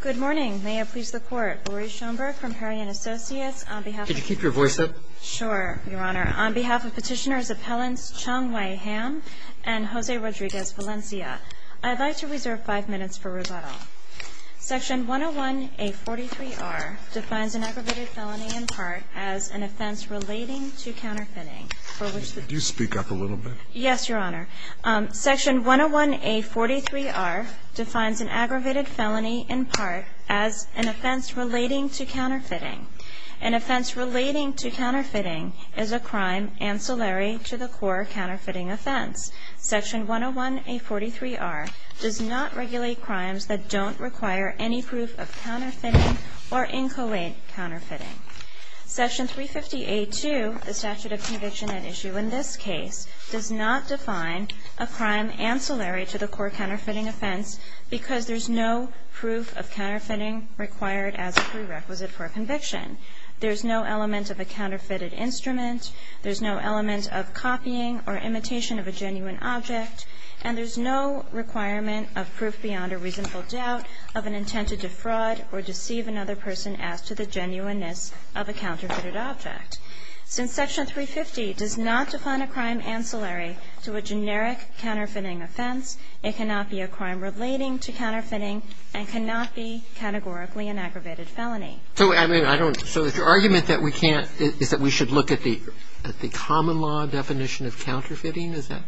Good morning. May it please the Court. Laurie Schoenberg from Herriot & Associates. Could you keep your voice up? Sure, Your Honor. On behalf of Petitioners' Appellants Chong-Wei Ham and Jose Rodriguez-Valencia, I'd like to reserve five minutes for rebuttal. Section 101A43R defines an aggravated felony in part as an offense relating to counterfeiting. Could you speak up a little bit? Yes, Your Honor. Section 101A43R defines an aggravated felony in part as an offense relating to counterfeiting. An offense relating to counterfeiting is a crime ancillary to the core counterfeiting offense. Section 101A43R does not regulate crimes that don't require any proof of counterfeiting or incolate counterfeiting. Section 350A2, the statute of conviction at issue in this case, does not define a crime ancillary to the core counterfeiting offense because there's no proof of counterfeiting required as a prerequisite for a conviction. There's no element of a counterfeited instrument. There's no element of copying or imitation of a genuine object. And there's no requirement of proof beyond a reasonable doubt of an intent to defraud or deceive another person as to the genuineness of a counterfeited object. Since Section 350 does not define a crime ancillary to a generic counterfeiting offense, it cannot be a crime relating to counterfeiting and cannot be categorically an aggravated felony. So I mean, I don't – so your argument that we can't – is that we should look at the common law definition of counterfeiting? Is that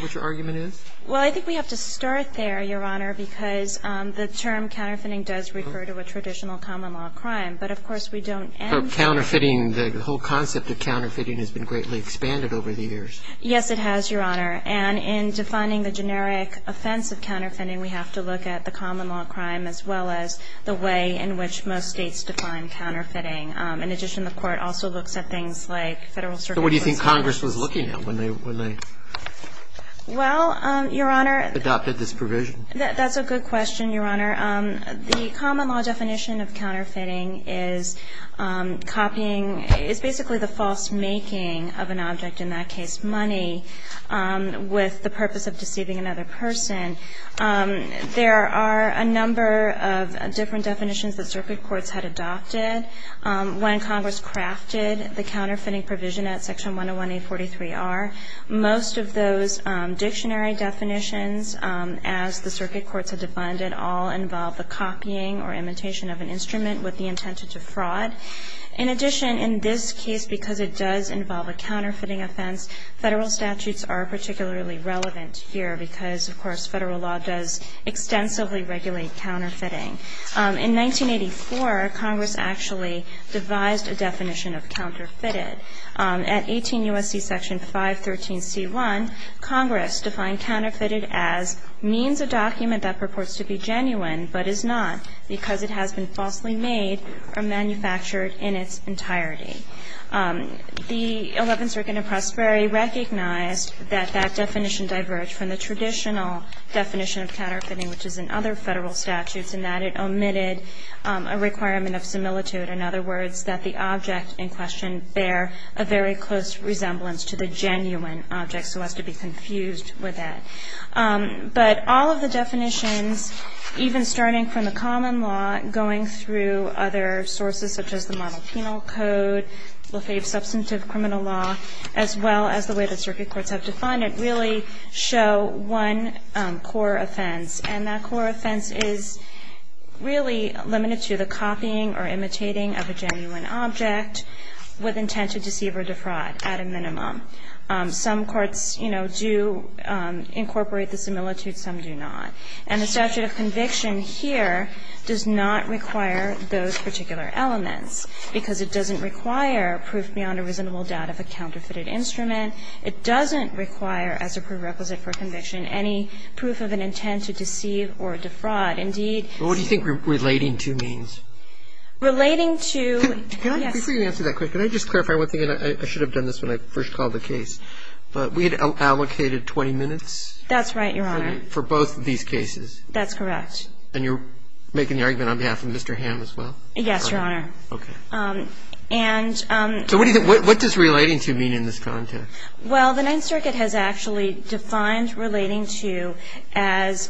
what your argument is? Well, I think we have to start there, Your Honor, because the term counterfeiting does refer to a traditional common law crime. But, of course, we don't end there. Counterfeiting, the whole concept of counterfeiting has been greatly expanded over the years. Yes, it has, Your Honor. And in defining the generic offense of counterfeiting, we have to look at the common law crime as well as the way in which most states define counterfeiting. In addition, the Court also looks at things like Federal circumstances. So what do you think Congress was looking at when they – when they – Well, Your Honor – Adopted this provision? That's a good question, Your Honor. The common law definition of counterfeiting is copying – is basically the false making of an object, in that case money, with the purpose of deceiving another person. There are a number of different definitions that circuit courts had adopted when Congress crafted the counterfeiting provision at Section 101A43R. Most of those dictionary definitions, as the circuit courts had defined it, all involve the copying or imitation of an instrument with the intent to defraud. In addition, in this case, because it does involve a counterfeiting offense, Federal statutes are particularly relevant here because, of course, Federal law does extensively regulate counterfeiting. In 1984, Congress actually devised a definition of counterfeited. At 18 U.S.C. Section 513C1, Congress defined counterfeited as means a document that purports to be genuine but is not because it has been falsely made or manufactured in its entirety. The Eleventh Circuit in Pressbury recognized that that definition diverged from the traditional definition of counterfeiting, which is in other Federal statutes, in that it omitted a requirement of similitude. In other words, that the object in question bear a very close resemblance to the genuine object, so as to be confused with that. But all of the definitions, even starting from the common law, going through other sources, such as the model penal code, Lafave substantive criminal law, as well as the way that circuit courts have defined it, really show one core offense. And that core offense is really limited to the copying or imitating of a genuine object with intent to deceive or defraud at a minimum. Some courts, you know, do incorporate the similitude, some do not. And the statute of conviction here does not require those particular elements because it doesn't require proof beyond a reasonable doubt of a counterfeited instrument. It doesn't require, as a prerequisite for conviction, any proof of an intent to deceive or defraud. Indeed, it's not. Roberts. What do you think relating to means? Relating to, yes. Before you answer that question, can I just clarify one thing? And I should have done this when I first called the case. But we had allocated 20 minutes? That's right, Your Honor. For both of these cases? That's correct. And you're making the argument on behalf of Mr. Hamm as well? Yes, Your Honor. Okay. And so what do you think, what does relating to mean in this context? Well, the Ninth Circuit has actually defined relating to as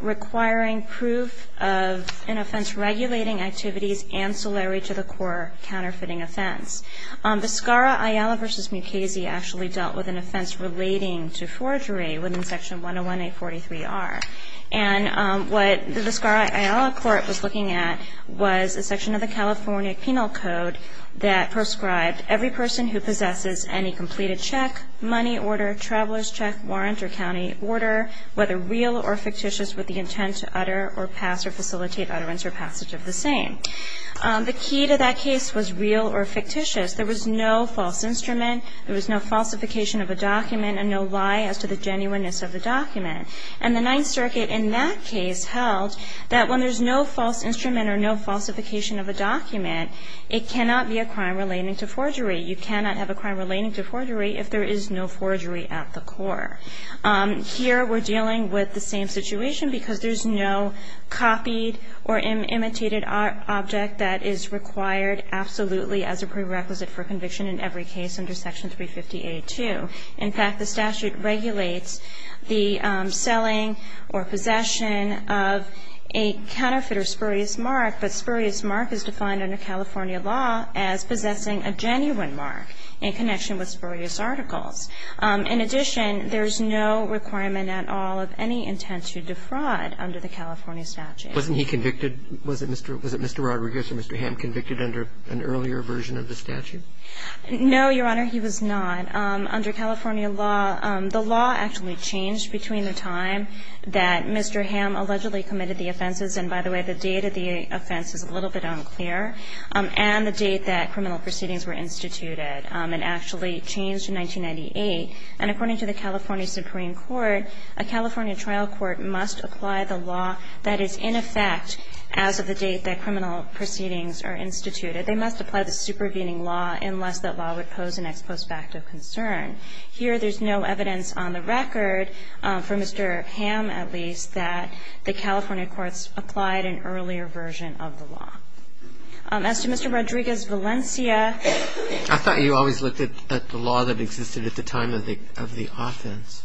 requiring proof of an offense regulating activities ancillary to the core counterfeiting offense. Viscara-Aiello v. Mukasey actually dealt with an offense relating to forgery within Section 101A43R. And what the Viscara-Aiello Court was looking at was a section of the California penal code that prescribed every person who possesses any completed check, money order, traveler's check, warrant, or county order, whether real or fictitious with the intent to utter or pass or facilitate utterance or passage of the same. The key to that case was real or fictitious. There was no false instrument. There was no falsification of a document and no lie as to the genuineness of the document. And the Ninth Circuit in that case held that when there's no false instrument or no falsification of a document, it cannot be a crime relating to forgery. You cannot have a crime relating to forgery if there is no forgery at the core. Here we're dealing with the same situation because there's no copied or imitated object that is required absolutely as a prerequisite for conviction in every case under Section 350A2. In fact, the statute regulates the selling or possession of a counterfeit or It's not a genuine mark, but spurious mark is defined under California law as possessing a genuine mark in connection with spurious articles. In addition, there's no requirement at all of any intent to defraud under the California statute. Roberts. Wasn't he convicted? Was it Mr. Rodriguez or Mr. Hamm convicted under an earlier version of the statute? No, Your Honor, he was not. But under California law, the law actually changed between the time that Mr. Hamm allegedly committed the offenses, and by the way, the date of the offense is a little bit unclear, and the date that criminal proceedings were instituted. It actually changed in 1998. And according to the California Supreme Court, a California trial court must apply the law that is in effect as of the date that criminal proceedings are instituted. They must apply the supervening law unless that law would pose an ex post facto concern. Here there's no evidence on the record, for Mr. Hamm at least, that the California courts applied an earlier version of the law. As to Mr. Rodriguez's Valencia. I thought you always looked at the law that existed at the time of the offense.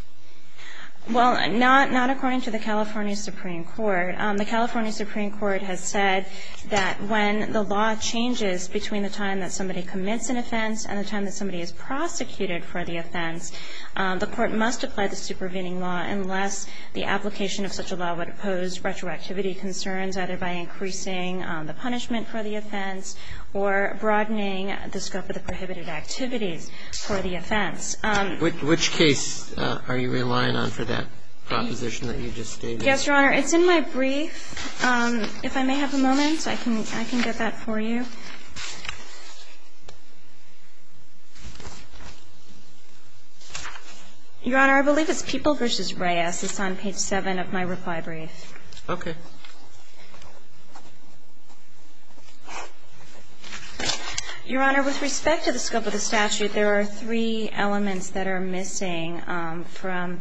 Well, not according to the California Supreme Court. The California Supreme Court has said that when the law changes between the time that somebody commits an offense and the time that somebody is prosecuted for the offense, the court must apply the supervening law unless the application of such a law would pose retroactivity concerns, either by increasing the punishment for the offense or broadening the scope of the prohibited activities for the offense. Which case are you relying on for that proposition that you just stated? Yes, Your Honor. It's in my brief. If I may have a moment, I can get that for you. Your Honor, I believe it's People v. Reyes. It's on page 7 of my reply brief. Okay. Your Honor, with respect to the scope of the statute, there are three elements that are missing from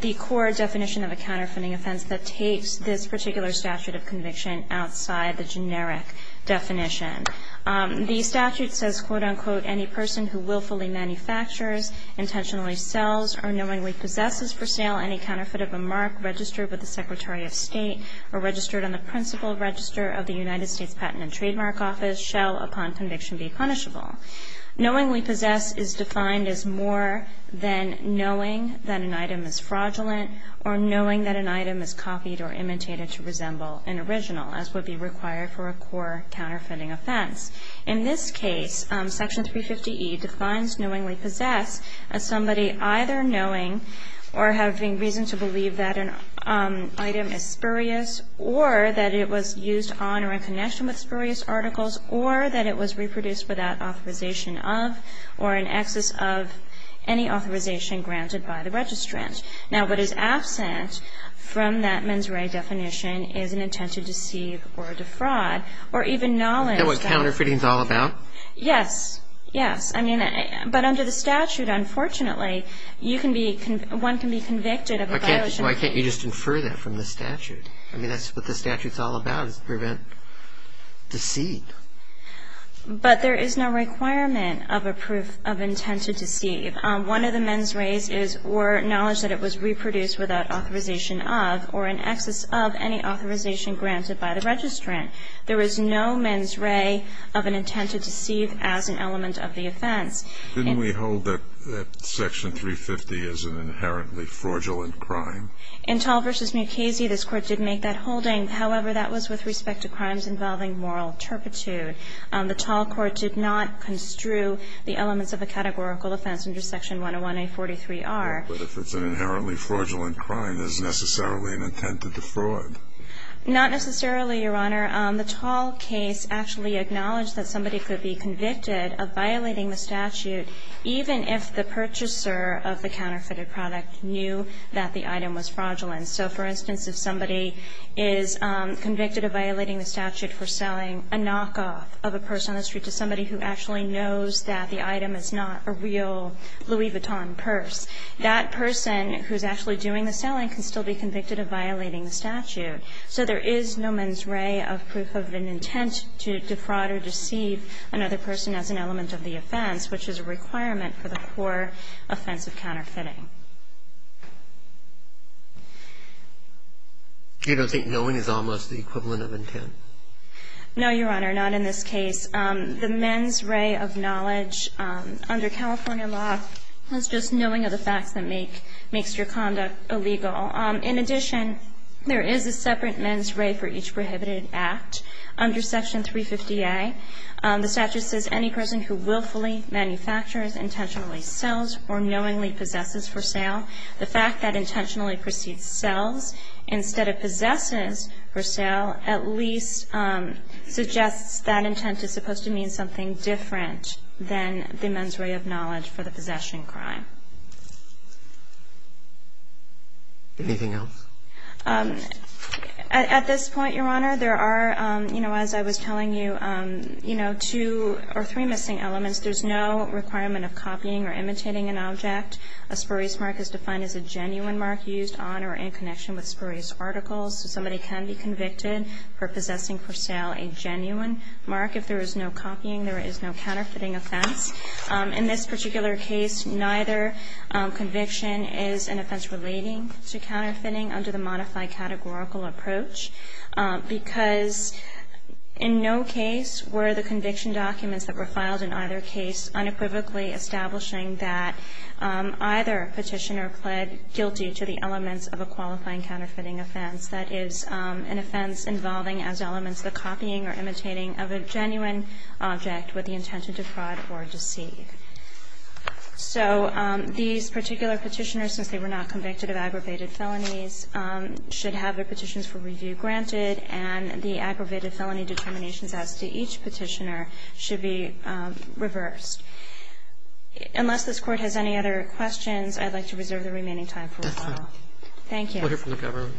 the core definition of a counterfeiting offense that takes this particular statute of conviction outside the generic definition. The statute says, quote, unquote, any person who willfully manufactures, intentionally sells, or knowingly possesses for sale any counterfeit of a mark registered with the Secretary of State or registered on the principal register of the United States Patent and Trademark Office shall, upon conviction, be punishable. Knowingly possess is defined as more than knowing that an item is fraudulent or knowing that an item is copied or imitated to resemble an original, as would be required for a core counterfeiting offense. In this case, Section 350E defines knowingly possess as somebody either knowing or having reason to believe that an item is spurious or that it was used on or in connection with spurious articles or that it was reproduced without authorization of or in excess of any authorization granted by the registrant. Now, what is absent from that mens rea definition is an intent to deceive or defraud or even knowledge that was counterfeiting. Is that what counterfeiting is all about? Yes. Yes. I mean, but under the statute, unfortunately, you can be one can be convicted of a violation. Why can't you just infer that from the statute? I mean, that's what the statute's all about is to prevent deceit. But there is no requirement of a proof of intent to deceive. One of the mens reas is or knowledge that it was reproduced without authorization of or in excess of any authorization granted by the registrant. There is no mens rea of an intent to deceive as an element of the offense. Didn't we hold that Section 350 is an inherently fraudulent crime? In Tall v. Mukasey, this Court did make that holding. However, that was with respect to crimes involving moral turpitude. The Tall Court did not construe the elements of a categorical offense under Section 101A43R. But if it's an inherently fraudulent crime, there's necessarily an intent to defraud. Not necessarily, Your Honor. The Tall case actually acknowledged that somebody could be convicted of violating the statute even if the purchaser of the counterfeited product knew that the item was fraudulent. So, for instance, if somebody is convicted of violating the statute for selling a knockoff of a purse on the street to somebody who actually knows that the item is not a real Louis Vuitton purse, that person who's actually doing the selling can still be convicted of violating the statute. So there is no mens rea of proof of an intent to defraud or deceive another person as an element of the offense, which is a requirement for the core offense of counterfeiting. Do you not think knowing is almost the equivalent of intent? No, Your Honor. Not in this case. The mens rea of knowledge under California law is just knowing of the facts that makes your conduct illegal. In addition, there is a separate mens rea for each prohibited act under Section 350A. The statute says, Any person who willfully manufactures, intentionally sells, or knowingly possesses for sale, the fact that intentionally proceeds sells instead of possesses for sale at least suggests that intent is supposed to mean something different than the mens rea of knowledge for the possession crime. Anything else? At this point, Your Honor, there are, you know, as I was telling you, you know, two or three missing elements. There's no requirement of copying or imitating an object. A spurious mark is defined as a genuine mark used on or in connection with spurious articles. So somebody can be convicted for possessing for sale a genuine mark. If there is no copying, there is no counterfeiting offense. In this particular case, neither conviction is an offense relating to counterfeiting under the modified categorical approach, because in no case were the conviction documents that were filed in either case unequivocally establishing that either Petitioner pled guilty to the elements of a qualifying counterfeiting offense, that is, an offense involving as elements the copying or imitating of a genuine object with the intention to fraud or deceive. So these particular Petitioners, since they were not convicted of aggravated felonies, should have their petitions for review granted, and the aggravated felony determinations as to each Petitioner should be reversed. Unless this Court has any other questions, I'd like to reserve the remaining time for rebuttal. Thank you. We'll hear from the government.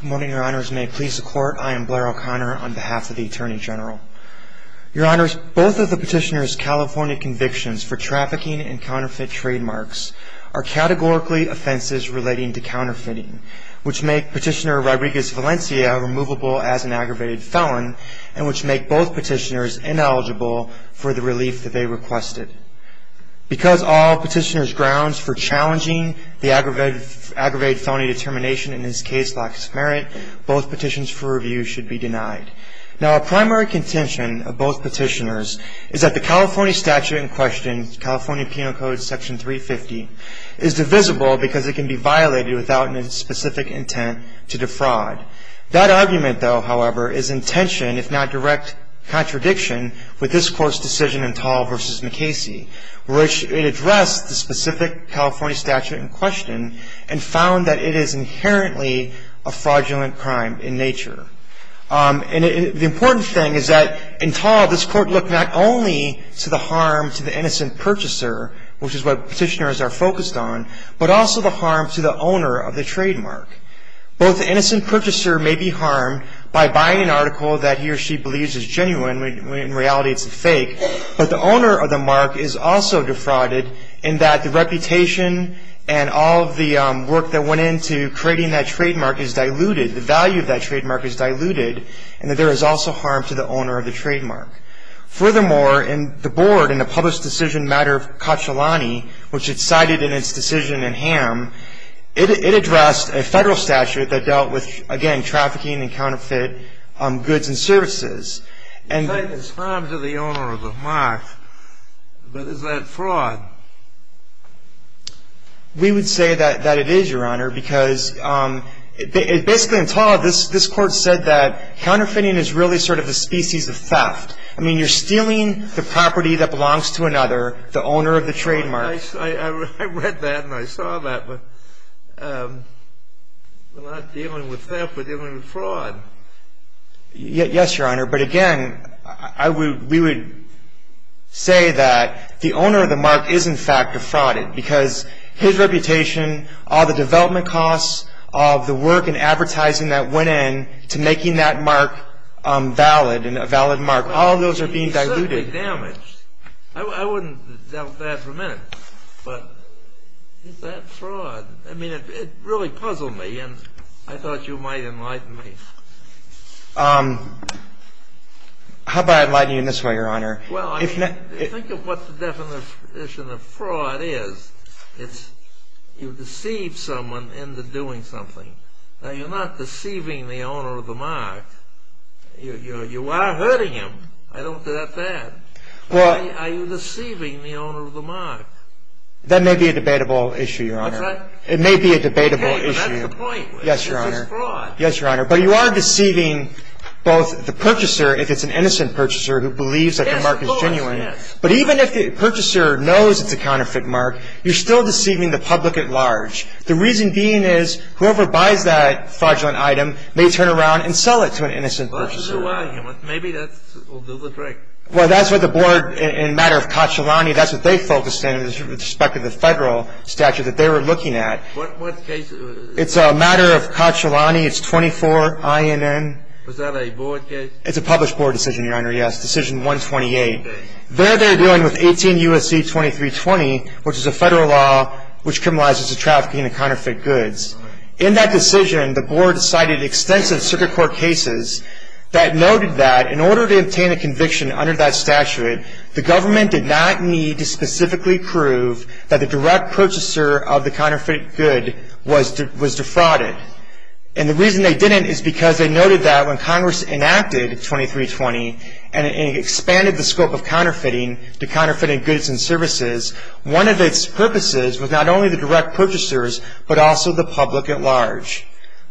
Good morning, Your Honors. May it please the Court, I am Blair O'Connor on behalf of the Attorney General. Your Honors, both of the Petitioner's California convictions for trafficking and counterfeit trademarks are categorically offenses relating to counterfeiting, which make Petitioner Rodriguez-Valencia's conviction as an aggravated felon, and which make both Petitioners ineligible for the relief that they requested. Because all Petitioner's grounds for challenging the aggravated felony determination in this case lack merit, both petitions for review should be denied. Now, a primary contention of both Petitioners is that the California statute in question, California Penal Code Section 350, is divisible because it can be That argument, though, however, is in tension, if not direct contradiction, with this Court's decision in Tall v. McKacy, which it addressed the specific California statute in question and found that it is inherently a fraudulent crime in nature. And the important thing is that in Tall, this Court looked not only to the harm to the innocent purchaser, which is what Petitioners are focused on, but also the harm to the owner of the trademark. Both the innocent purchaser may be harmed by buying an article that he or she believes is genuine, when in reality it's a fake, but the owner of the mark is also defrauded in that the reputation and all of the work that went into creating that trademark is diluted, the value of that trademark is diluted, and that there is also harm to the owner of the trademark. Furthermore, in the Board, in the published decision matter of Cacciolani, which it cited in its decision in Ham, it addressed a federal statute that dealt with, again, trafficking and counterfeit goods and services. You say there's harm to the owner of the mark, but is that fraud? We would say that it is, Your Honor, because basically in Tall, this Court said that counterfeiting is really sort of the species of theft. I mean, you're stealing the property that belongs to another, the owner of the trademark. I read that and I saw that, but we're not dealing with theft, we're dealing with fraud. Yes, Your Honor, but again, we would say that the owner of the mark is, in fact, defrauded because his reputation, all the development costs, all of the work and advertising that went in to making that mark valid and a valid mark, all of those are being diluted. I wouldn't doubt that for a minute, but is that fraud? I mean, it really puzzled me and I thought you might enlighten me. How about enlightening you in this way, Your Honor? Well, I mean, think of what the definition of fraud is. It's you deceive someone into doing something. Now, you're not deceiving the owner of the mark. You are hurting him. I don't doubt that. Are you deceiving the owner of the mark? That may be a debatable issue, Your Honor. What's that? It may be a debatable issue. Hey, that's the point. Yes, Your Honor. This is fraud. Yes, Your Honor, but you are deceiving both the purchaser, if it's an innocent purchaser who believes that the mark is genuine. Yes, of course, yes. But even if the purchaser knows it's a counterfeit mark, you're still deceiving The reason being is whoever buys that fraudulent item may turn around and sell it to an innocent purchaser. Well, that's a good argument. Maybe that will do the trick. Well, that's what the board in a matter of Cacciolani, that's what they focused in with respect to the federal statute that they were looking at. What case? It's a matter of Cacciolani. It's 24 INN. Was that a board case? It's a published board decision, Your Honor, yes. Decision 128. Okay. There they're dealing with 18 U.S.C. 2320, which is a federal law which criminalizes the trafficking of counterfeit goods. All right. In that decision, the board cited extensive circuit court cases that noted that in order to obtain a conviction under that statute, the government did not need to specifically prove that the direct purchaser of the counterfeit good was defrauded. And the reason they didn't is because they noted that when Congress enacted 2320 and it expanded the scope of counterfeiting to counterfeiting goods and services, one of its purposes was not only the direct purchasers but also the public at large.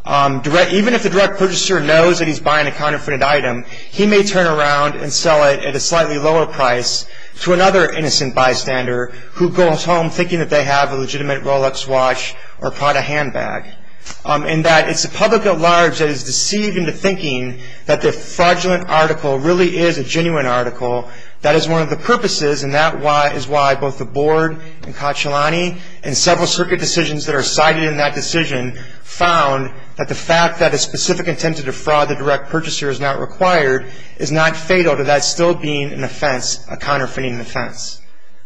Even if the direct purchaser knows that he's buying a counterfeited item, he may turn around and sell it at a slightly lower price to another innocent bystander who goes home thinking that they have a legitimate Rolex watch or probably a handbag. And that it's the public at large that is deceived into thinking that the fraudulent article really is a genuine article. That is one of the purposes, and that is why both the board and Cacciolani and Cacciolani found that the fact that a specific attempt to defraud the direct purchaser is not required is not fatal to that still being an offense, a counterfeiting offense.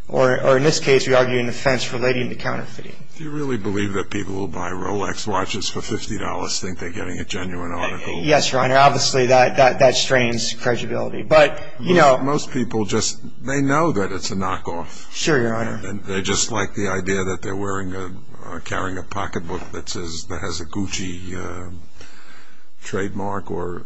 Or in this case, we argue an offense relating to counterfeiting. Do you really believe that people who buy Rolex watches for $50 think they're getting a genuine article? Yes, Your Honor. Obviously, that strains credibility. But, you know. Most people just, they know that it's a knockoff. Sure, Your Honor. They just like the idea that they're wearing a, carrying a pocketbook that says, that has a Gucci trademark or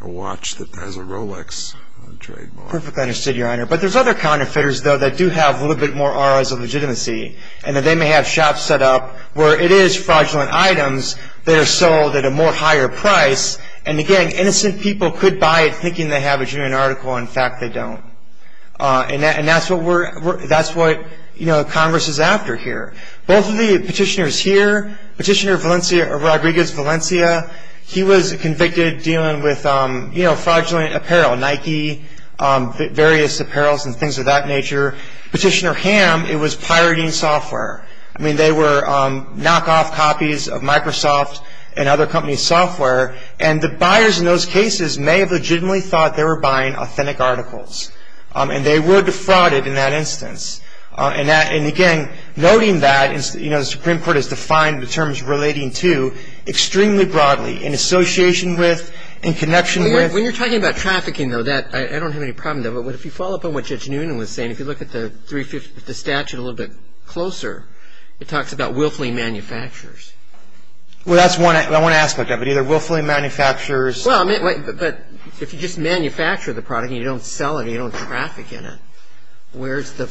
a watch that has a Rolex trademark. Perfectly understood, Your Honor. But there's other counterfeiters, though, that do have a little bit more ROI's of legitimacy. And that they may have shops set up where it is fraudulent items that are sold at a more higher price. And, again, innocent people could buy it thinking they have a genuine article. In fact, they don't. And that's what we're, that's what, you know, Congress is after here. Both of the petitioners here, Petitioner Valencia, Rodriguez Valencia, he was convicted dealing with, you know, fraudulent apparel, Nike, various apparels and things of that nature. Petitioner Hamm, it was pirating software. I mean, they were knockoff copies of Microsoft and other companies' software. And the buyers in those cases may have legitimately thought they were buying authentic articles. And they were defrauded in that instance. And, again, noting that, you know, the Supreme Court has defined the terms relating to extremely broadly in association with, in connection with. When you're talking about trafficking, though, that, I don't have any problem with that. But if you follow up on what Judge Noonan was saying, if you look at the statute a little bit closer, it talks about willfully manufacturers. Well, that's one aspect of it, either willfully manufacturers. But if you just manufacture the product and you don't sell it and you don't traffic in it, where's the,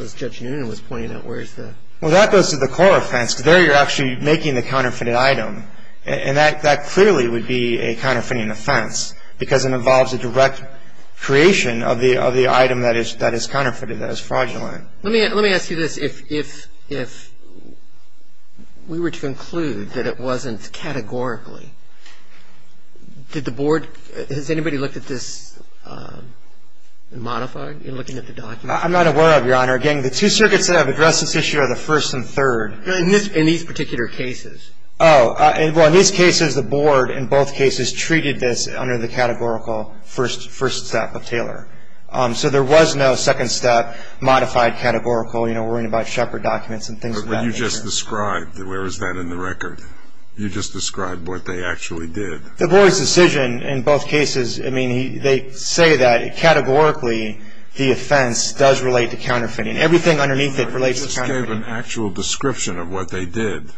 as Judge Noonan was pointing out, where's the? Well, that goes to the core offense, because there you're actually making the counterfeited item. And that clearly would be a counterfeiting offense, because it involves a direct creation of the item that is counterfeited, that is fraudulent. Let me ask you this. If we were to conclude that it wasn't categorically, did the board, has anybody looked at this and modified in looking at the document? I'm not aware of, Your Honor. Again, the two circuits that have addressed this issue are the first and third. In these particular cases. Oh, well, in these cases, the board in both cases treated this under the categorical first step of Taylor. So there was no second step modified categorical, you know, worrying about Shepherd documents and things of that nature. But you just described, where is that in the record? You just described what they actually did. The board's decision in both cases, I mean, they say that categorically the offense does relate to counterfeiting. Everything underneath it relates to counterfeiting. You just gave an actual description of what they did.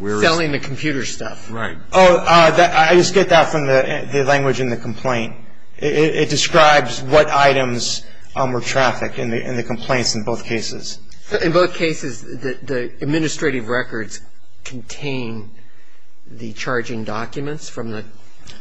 Selling the computer stuff. Right. Oh, I just get that from the language in the complaint. It describes what items were trafficked in the complaints in both cases. In both cases, the administrative records contain the charging documents from the...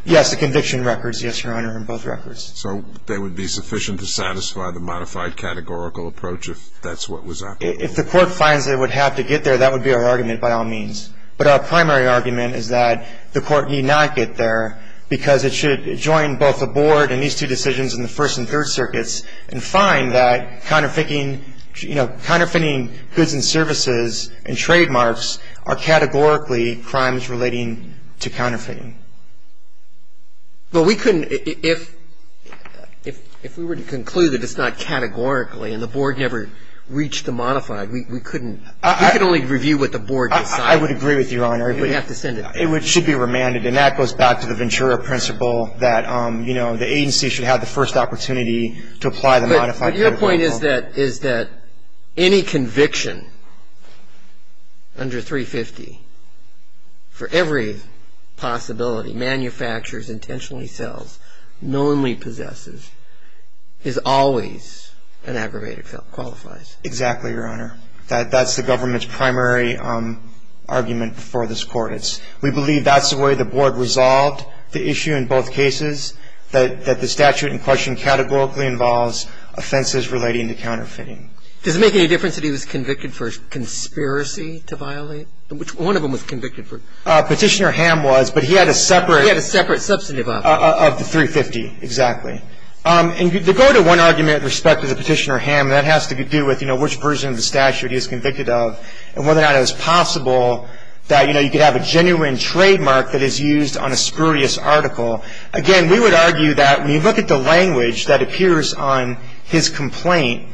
Yes, the conviction records, yes, Your Honor, in both records. So they would be sufficient to satisfy the modified categorical approach if that's what was... If the court finds they would have to get there, that would be our argument by all means. But our primary argument is that the court need not get there because it should join both the board and these two decisions in the First and Third Circuits and find that counterfeiting, you know, counterfeiting goods and services and trademarks are categorically crimes relating to counterfeiting. But we couldn't... If we were to conclude that it's not categorically and the board never reached the modified, we couldn't... We could only review what the board decided. I would agree with you, Your Honor. But you have to send it back. It should be remanded. And that goes back to the Ventura principle that, you know, the agency should have the first opportunity to apply the modified categorical. But your point is that any conviction under 350 for every possibility, manufactures, intentionally sells, knowingly possesses, is always an aggravated felon, qualifies. Exactly, Your Honor. That's the government's primary argument for this court. We believe that's the way the board resolved the issue in both cases, that the statute in question categorically involves offenses relating to counterfeiting. Does it make any difference that he was convicted for conspiracy to violate? One of them was convicted for... Petitioner Ham was, but he had a separate... He had a separate substantive... Of the 350, exactly. And to go to one argument with respect to the Petitioner Ham, that has to do with, you know, which version of the statute he was convicted of and whether or not it was possible that, you know, you could have a genuine trademark that is used on a spurious article. Again, we would argue that when you look at the language that appears on his complaint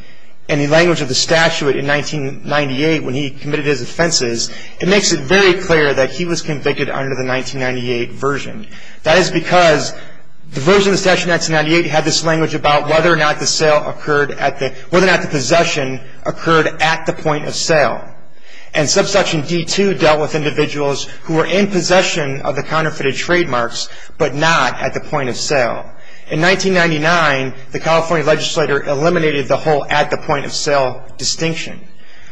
and the language of the statute in 1998 when he committed his offenses, it makes it very clear that he was convicted under the 1998 version. That is because the version of the statute in 1998 had this language about whether or not the sale occurred at the... whether or not the possession occurred at the point of sale. And Subsection D-2 dealt with individuals who were in possession of the counterfeited trademarks, but not at the point of sale. In 1999, the California legislator eliminated the whole at the point of sale distinction.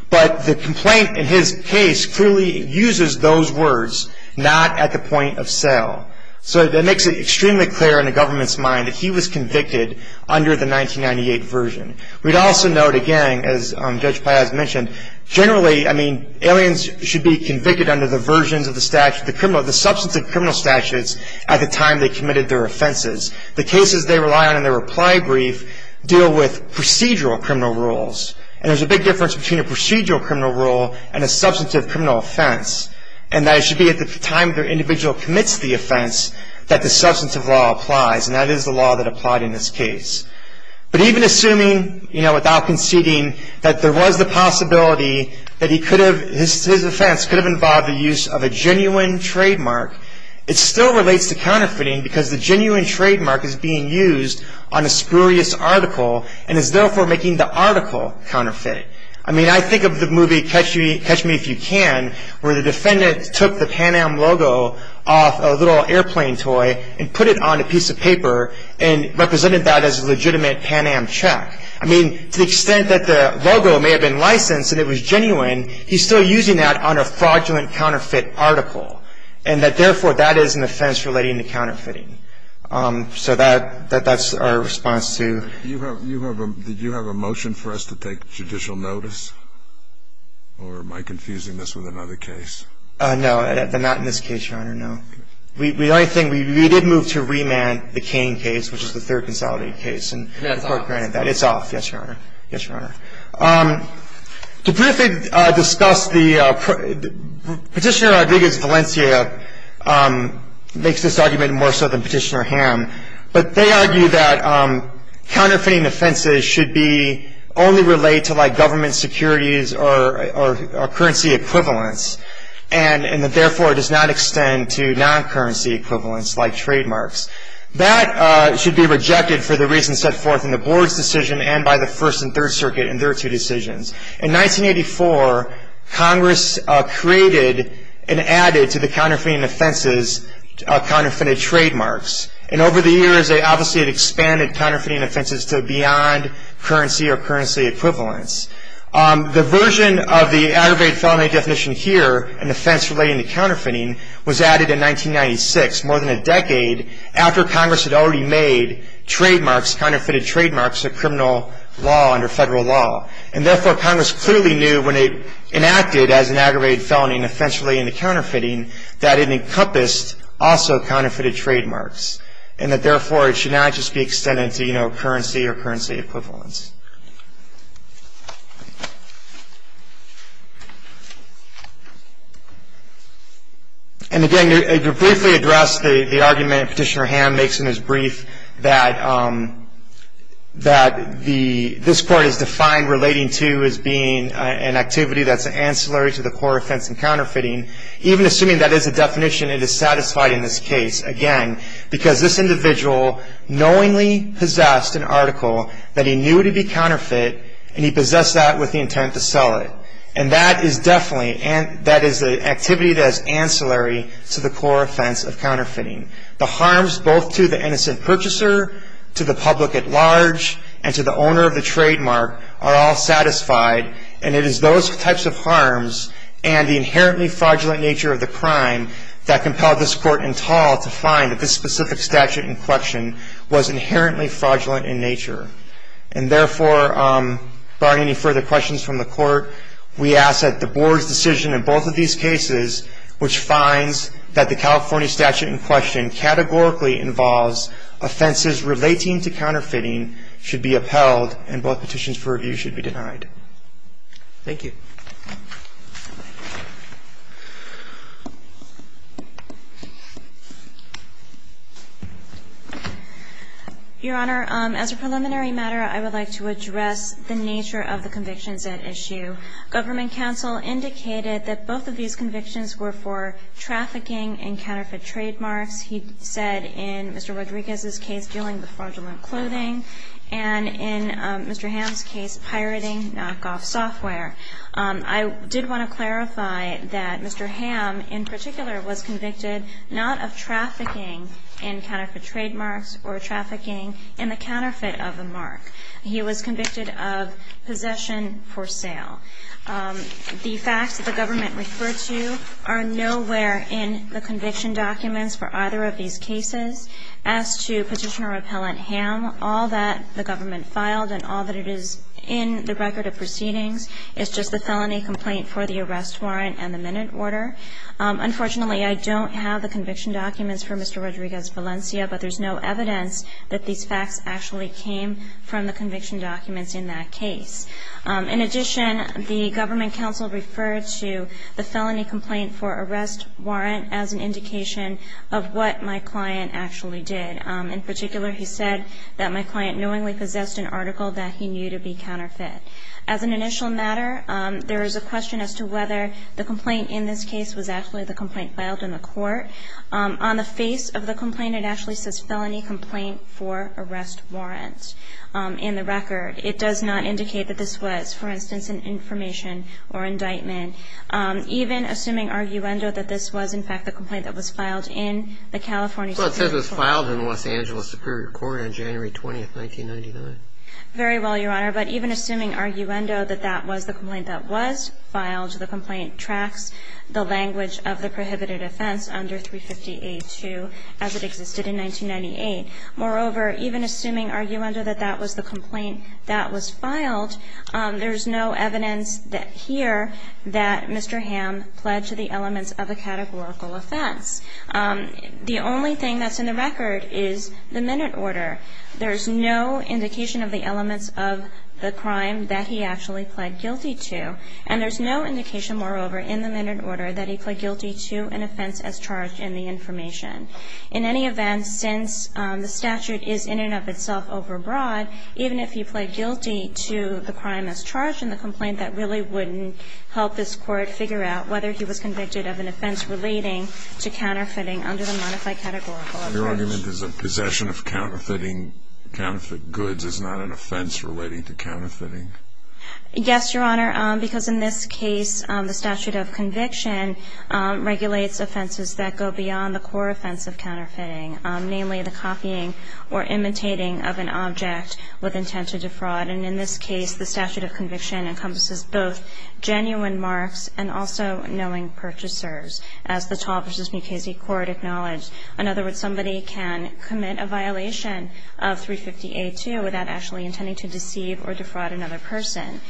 But the complaint in his case clearly uses those words, not at the point of sale. So that makes it extremely clear in the government's mind that he was convicted under the 1998 version. We'd also note, again, as Judge Piaz mentioned, generally, I mean, aliens should be convicted under the versions of the statute, the criminal, the substantive criminal statutes at the time they committed their offenses. The cases they rely on in their reply brief deal with procedural criminal rules. And there's a big difference between a procedural criminal rule and a substantive criminal offense. And that it should be at the time the individual commits the offense that the substantive law applies. And that is the law that applied in this case. But even assuming, you know, without conceding that there was the possibility that he could have... his offense could have involved the use of a genuine trademark, it still relates to counterfeiting because the genuine trademark is being used on a spurious article and is therefore making the article counterfeited. I mean, I think of the movie Catch Me If You Can, where the defendant took the Pan Am logo off a little airplane toy and put it on a piece of paper and represented that as a legitimate Pan Am check. I mean, to the extent that the logo may have been licensed and it was genuine, he's still using that on a fraudulent counterfeit article. And that, therefore, that is an offense relating to counterfeiting. So that's our response to... Did you have a motion for us to take judicial notice? Or am I confusing this with another case? No. Not in this case, Your Honor. No. The only thing, we did move to remand the Cain case, which is the third consolidated case. And the Court granted that. And that's off. It's off. Yes, Your Honor. Yes, Your Honor. To briefly discuss the... Petitioner Rodriguez Valencia makes this argument more so than Petitioner Hamm. But they argue that counterfeiting offenses should only relate to government securities or currency equivalents and that, therefore, it does not extend to non-currency equivalents like trademarks. That should be rejected for the reasons set forth in the Board's decision and by the First and Third Circuit in their two decisions. In 1984, Congress created and added to the counterfeiting offenses counterfeited trademarks. And over the years, they obviously had expanded counterfeiting offenses to beyond currency or currency equivalents. The version of the aggravated felony definition here, an offense relating to counterfeiting, was added in 1996, more than a decade after Congress had already made trademarks, counterfeited trademarks, a criminal law under federal law. And, therefore, Congress clearly knew when it enacted as an aggravated felony an offense relating to counterfeiting that it encompassed also counterfeited trademarks and that, therefore, it should not just be extended to, you know, currency or currency equivalents. And, again, to briefly address the argument Petitioner Hamm makes in his brief that this Court has defined relating to as being an activity that's ancillary to the core offense in counterfeiting, even assuming that is the definition, it is satisfied in this case, again, because this individual knowingly possessed an article that he knew would be counterfeit and he possessed that with the intent to sell it. And that is definitely an activity that is ancillary to the core offense of counterfeiting. The harms both to the innocent purchaser, to the public at large, and to the owner of the trademark are all satisfied. And it is those types of harms and the inherently fraudulent nature of the crime that compelled this Court in tall to find that this specific statute in question was inherently fraudulent in nature. And, therefore, barring any further questions from the Court, we ask that the Board's decision in both of these cases, which finds that the California statute in question categorically involves offenses relating to counterfeiting, should be upheld and both petitions for review should be denied. Thank you. Your Honor, as a preliminary matter, I would like to address the nature of the convictions at issue. Government counsel indicated that both of these convictions were for trafficking in counterfeit trademarks. He said in Mr. Rodriguez's case, dealing with fraudulent clothing, and in Mr. Hamm's case, pirating knockoff software. I did want to clarify that Mr. Hamm, in particular, was convicted not of trafficking in counterfeit trademarks or trafficking in the counterfeit of a mark. He was convicted of possession for sale. The facts that the government referred to are nowhere in the conviction documents for either of these cases. As to Petitioner Appellant Hamm, all that the government filed and all that it is in the record of proceedings is just the felony complaint for the arrest warrant and the minute order. Unfortunately, I don't have the conviction documents for Mr. Rodriguez Valencia, but there's no evidence that these facts actually came from the conviction documents in that case. In addition, the government counsel referred to the felony complaint for arrest warrant as an indication of what my client actually did. In particular, he said that my client knowingly possessed an article that he knew to be counterfeit. As an initial matter, there is a question as to whether the complaint in this case was actually the complaint filed in the court. On the face of the complaint, it actually says felony complaint for arrest warrant in the record. It does not indicate that this was, for instance, an information or indictment. Even assuming arguendo that this was, in fact, the complaint that was filed in the California Superior Court. Well, it says it was filed in the Los Angeles Superior Court on January 20, 1999. Very well, Your Honor, but even assuming arguendo that that was the complaint that was filed, the language of the prohibited offense under 350A2 as it existed in 1998. Moreover, even assuming arguendo that that was the complaint that was filed, there's no evidence here that Mr. Ham pled to the elements of a categorical offense. The only thing that's in the record is the minute order. There's no indication of the elements of the crime that he actually pled guilty to. And there's no indication, moreover, in the minute order that he pled guilty to an offense as charged in the information. In any event, since the statute is in and of itself overbroad, even if he pled guilty to the crime as charged in the complaint, that really wouldn't help this Court figure out whether he was convicted of an offense relating to counterfeiting under the modified categorical offense. Your argument is that possession of counterfeiting goods is not an offense relating to counterfeiting? Yes, Your Honor, because in this case, the statute of conviction regulates offenses that go beyond the core offense of counterfeiting, namely the copying or imitating of an object with intent to defraud. And in this case, the statute of conviction encompasses both genuine marks and also knowing purchasers, as the Tall v. Mukasey Court acknowledged. In other words, somebody can commit a violation of 350A2 without actually intending to deceive or defraud another person.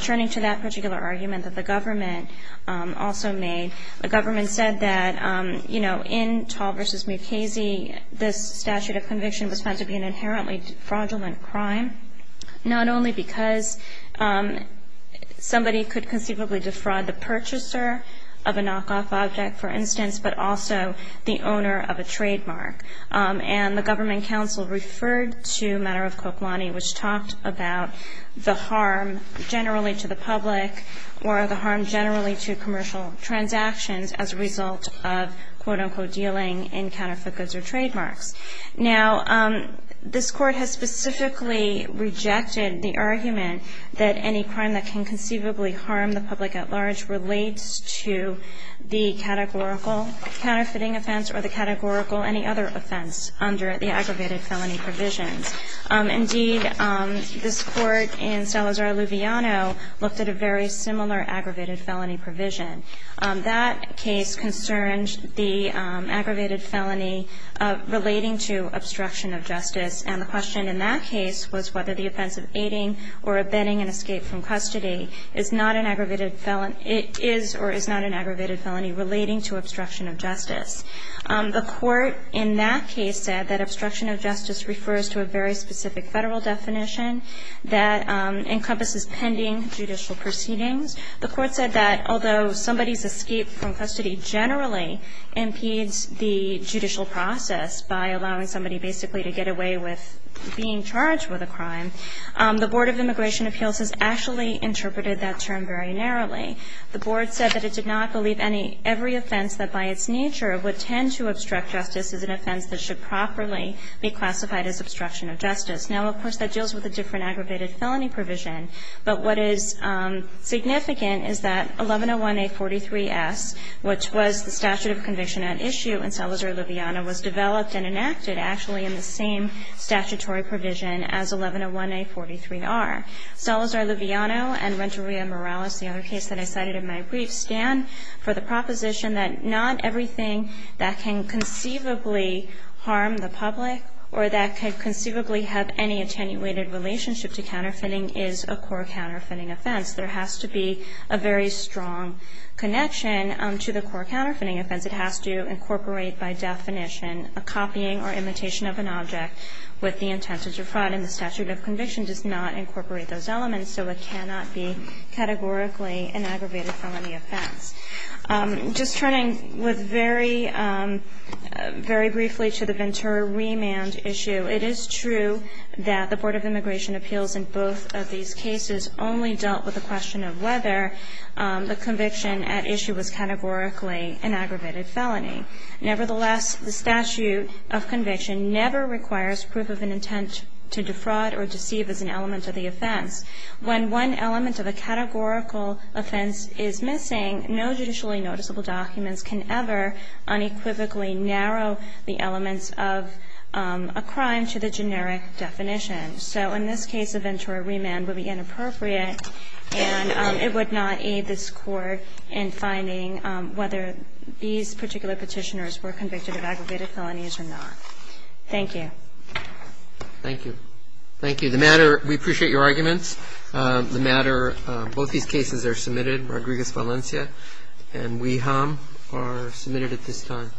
Turning to that particular argument that the government also made, the government said that, you know, in Tall v. Mukasey, this statute of conviction was found to be an inherently fraudulent crime, not only because somebody could conceivably defraud the purchaser of a knockoff object, for instance, but also the owner of a trademark. And the government counsel referred to a matter of Koplanyi, which talked about the harm generally to the public or the harm generally to commercial transactions as a result of, quote, unquote, dealing in counterfeit goods or trademarks. Now, this Court has specifically rejected the argument that any crime that can conceivably harm the public at large relates to the categorical counterfeiting offense or the categorical any other offense under the aggravated felony provisions. Indeed, this Court in Salazar-Luviano looked at a very similar aggravated felony provision. That case concerned the aggravated felony relating to obstruction of justice, and the question in that case was whether the offense of aiding or abetting an escape from custody is not an aggravated felony or is not an aggravated felony relating to obstruction of justice. The Court in that case said that obstruction of justice refers to a very specific Federal definition that encompasses pending judicial proceedings. The Court said that although somebody's escape from custody generally impedes the judicial process by allowing somebody basically to get away with being charged with a crime, the Board of Immigration Appeals has actually interpreted that term very narrowly. The Board said that it did not believe every offense that by its nature would tend to obstruct justice is an offense that should properly be classified as obstruction of justice. Now, of course, that deals with a different aggravated felony provision, but what is significant is that 1101A43S, which was the statute of conviction at issue in Salazar-Luviano, was developed and enacted actually in the same statutory provision as 1101A43R. Salazar-Luviano and Renteria Morales, the other case that I cited in my brief, stand for the proposition that not everything that can conceivably harm the public or that could conceivably have any attenuated relationship to counterfeiting is a core counterfeiting offense. There has to be a very strong connection to the core counterfeiting offense. It has to incorporate by definition a copying or imitation of an object with the intent to defraud, and the statute of conviction does not incorporate those elements, so it cannot be categorically an aggravated felony offense. Just turning with very, very briefly to the Ventura remand issue, it is true that the Board of Immigration Appeals in both of these cases only dealt with the question of whether the conviction at issue was categorically an aggravated felony. Nevertheless, the statute of conviction never requires proof of an intent to defraud or deceive as an element of the offense. When one element of a categorical offense is missing, no judicially noticeable documents can ever unequivocally narrow the elements of a crime to the generic definition. So in this case, a Ventura remand would be inappropriate, and it would not aid this Court in finding whether these particular Petitioners were convicted of aggravated felonies or not. Thank you. Thank you. Thank you. The matter, we appreciate your arguments. The matter, both these cases are submitted. Rodriguez-Valencia and Wiham are submitted at this time.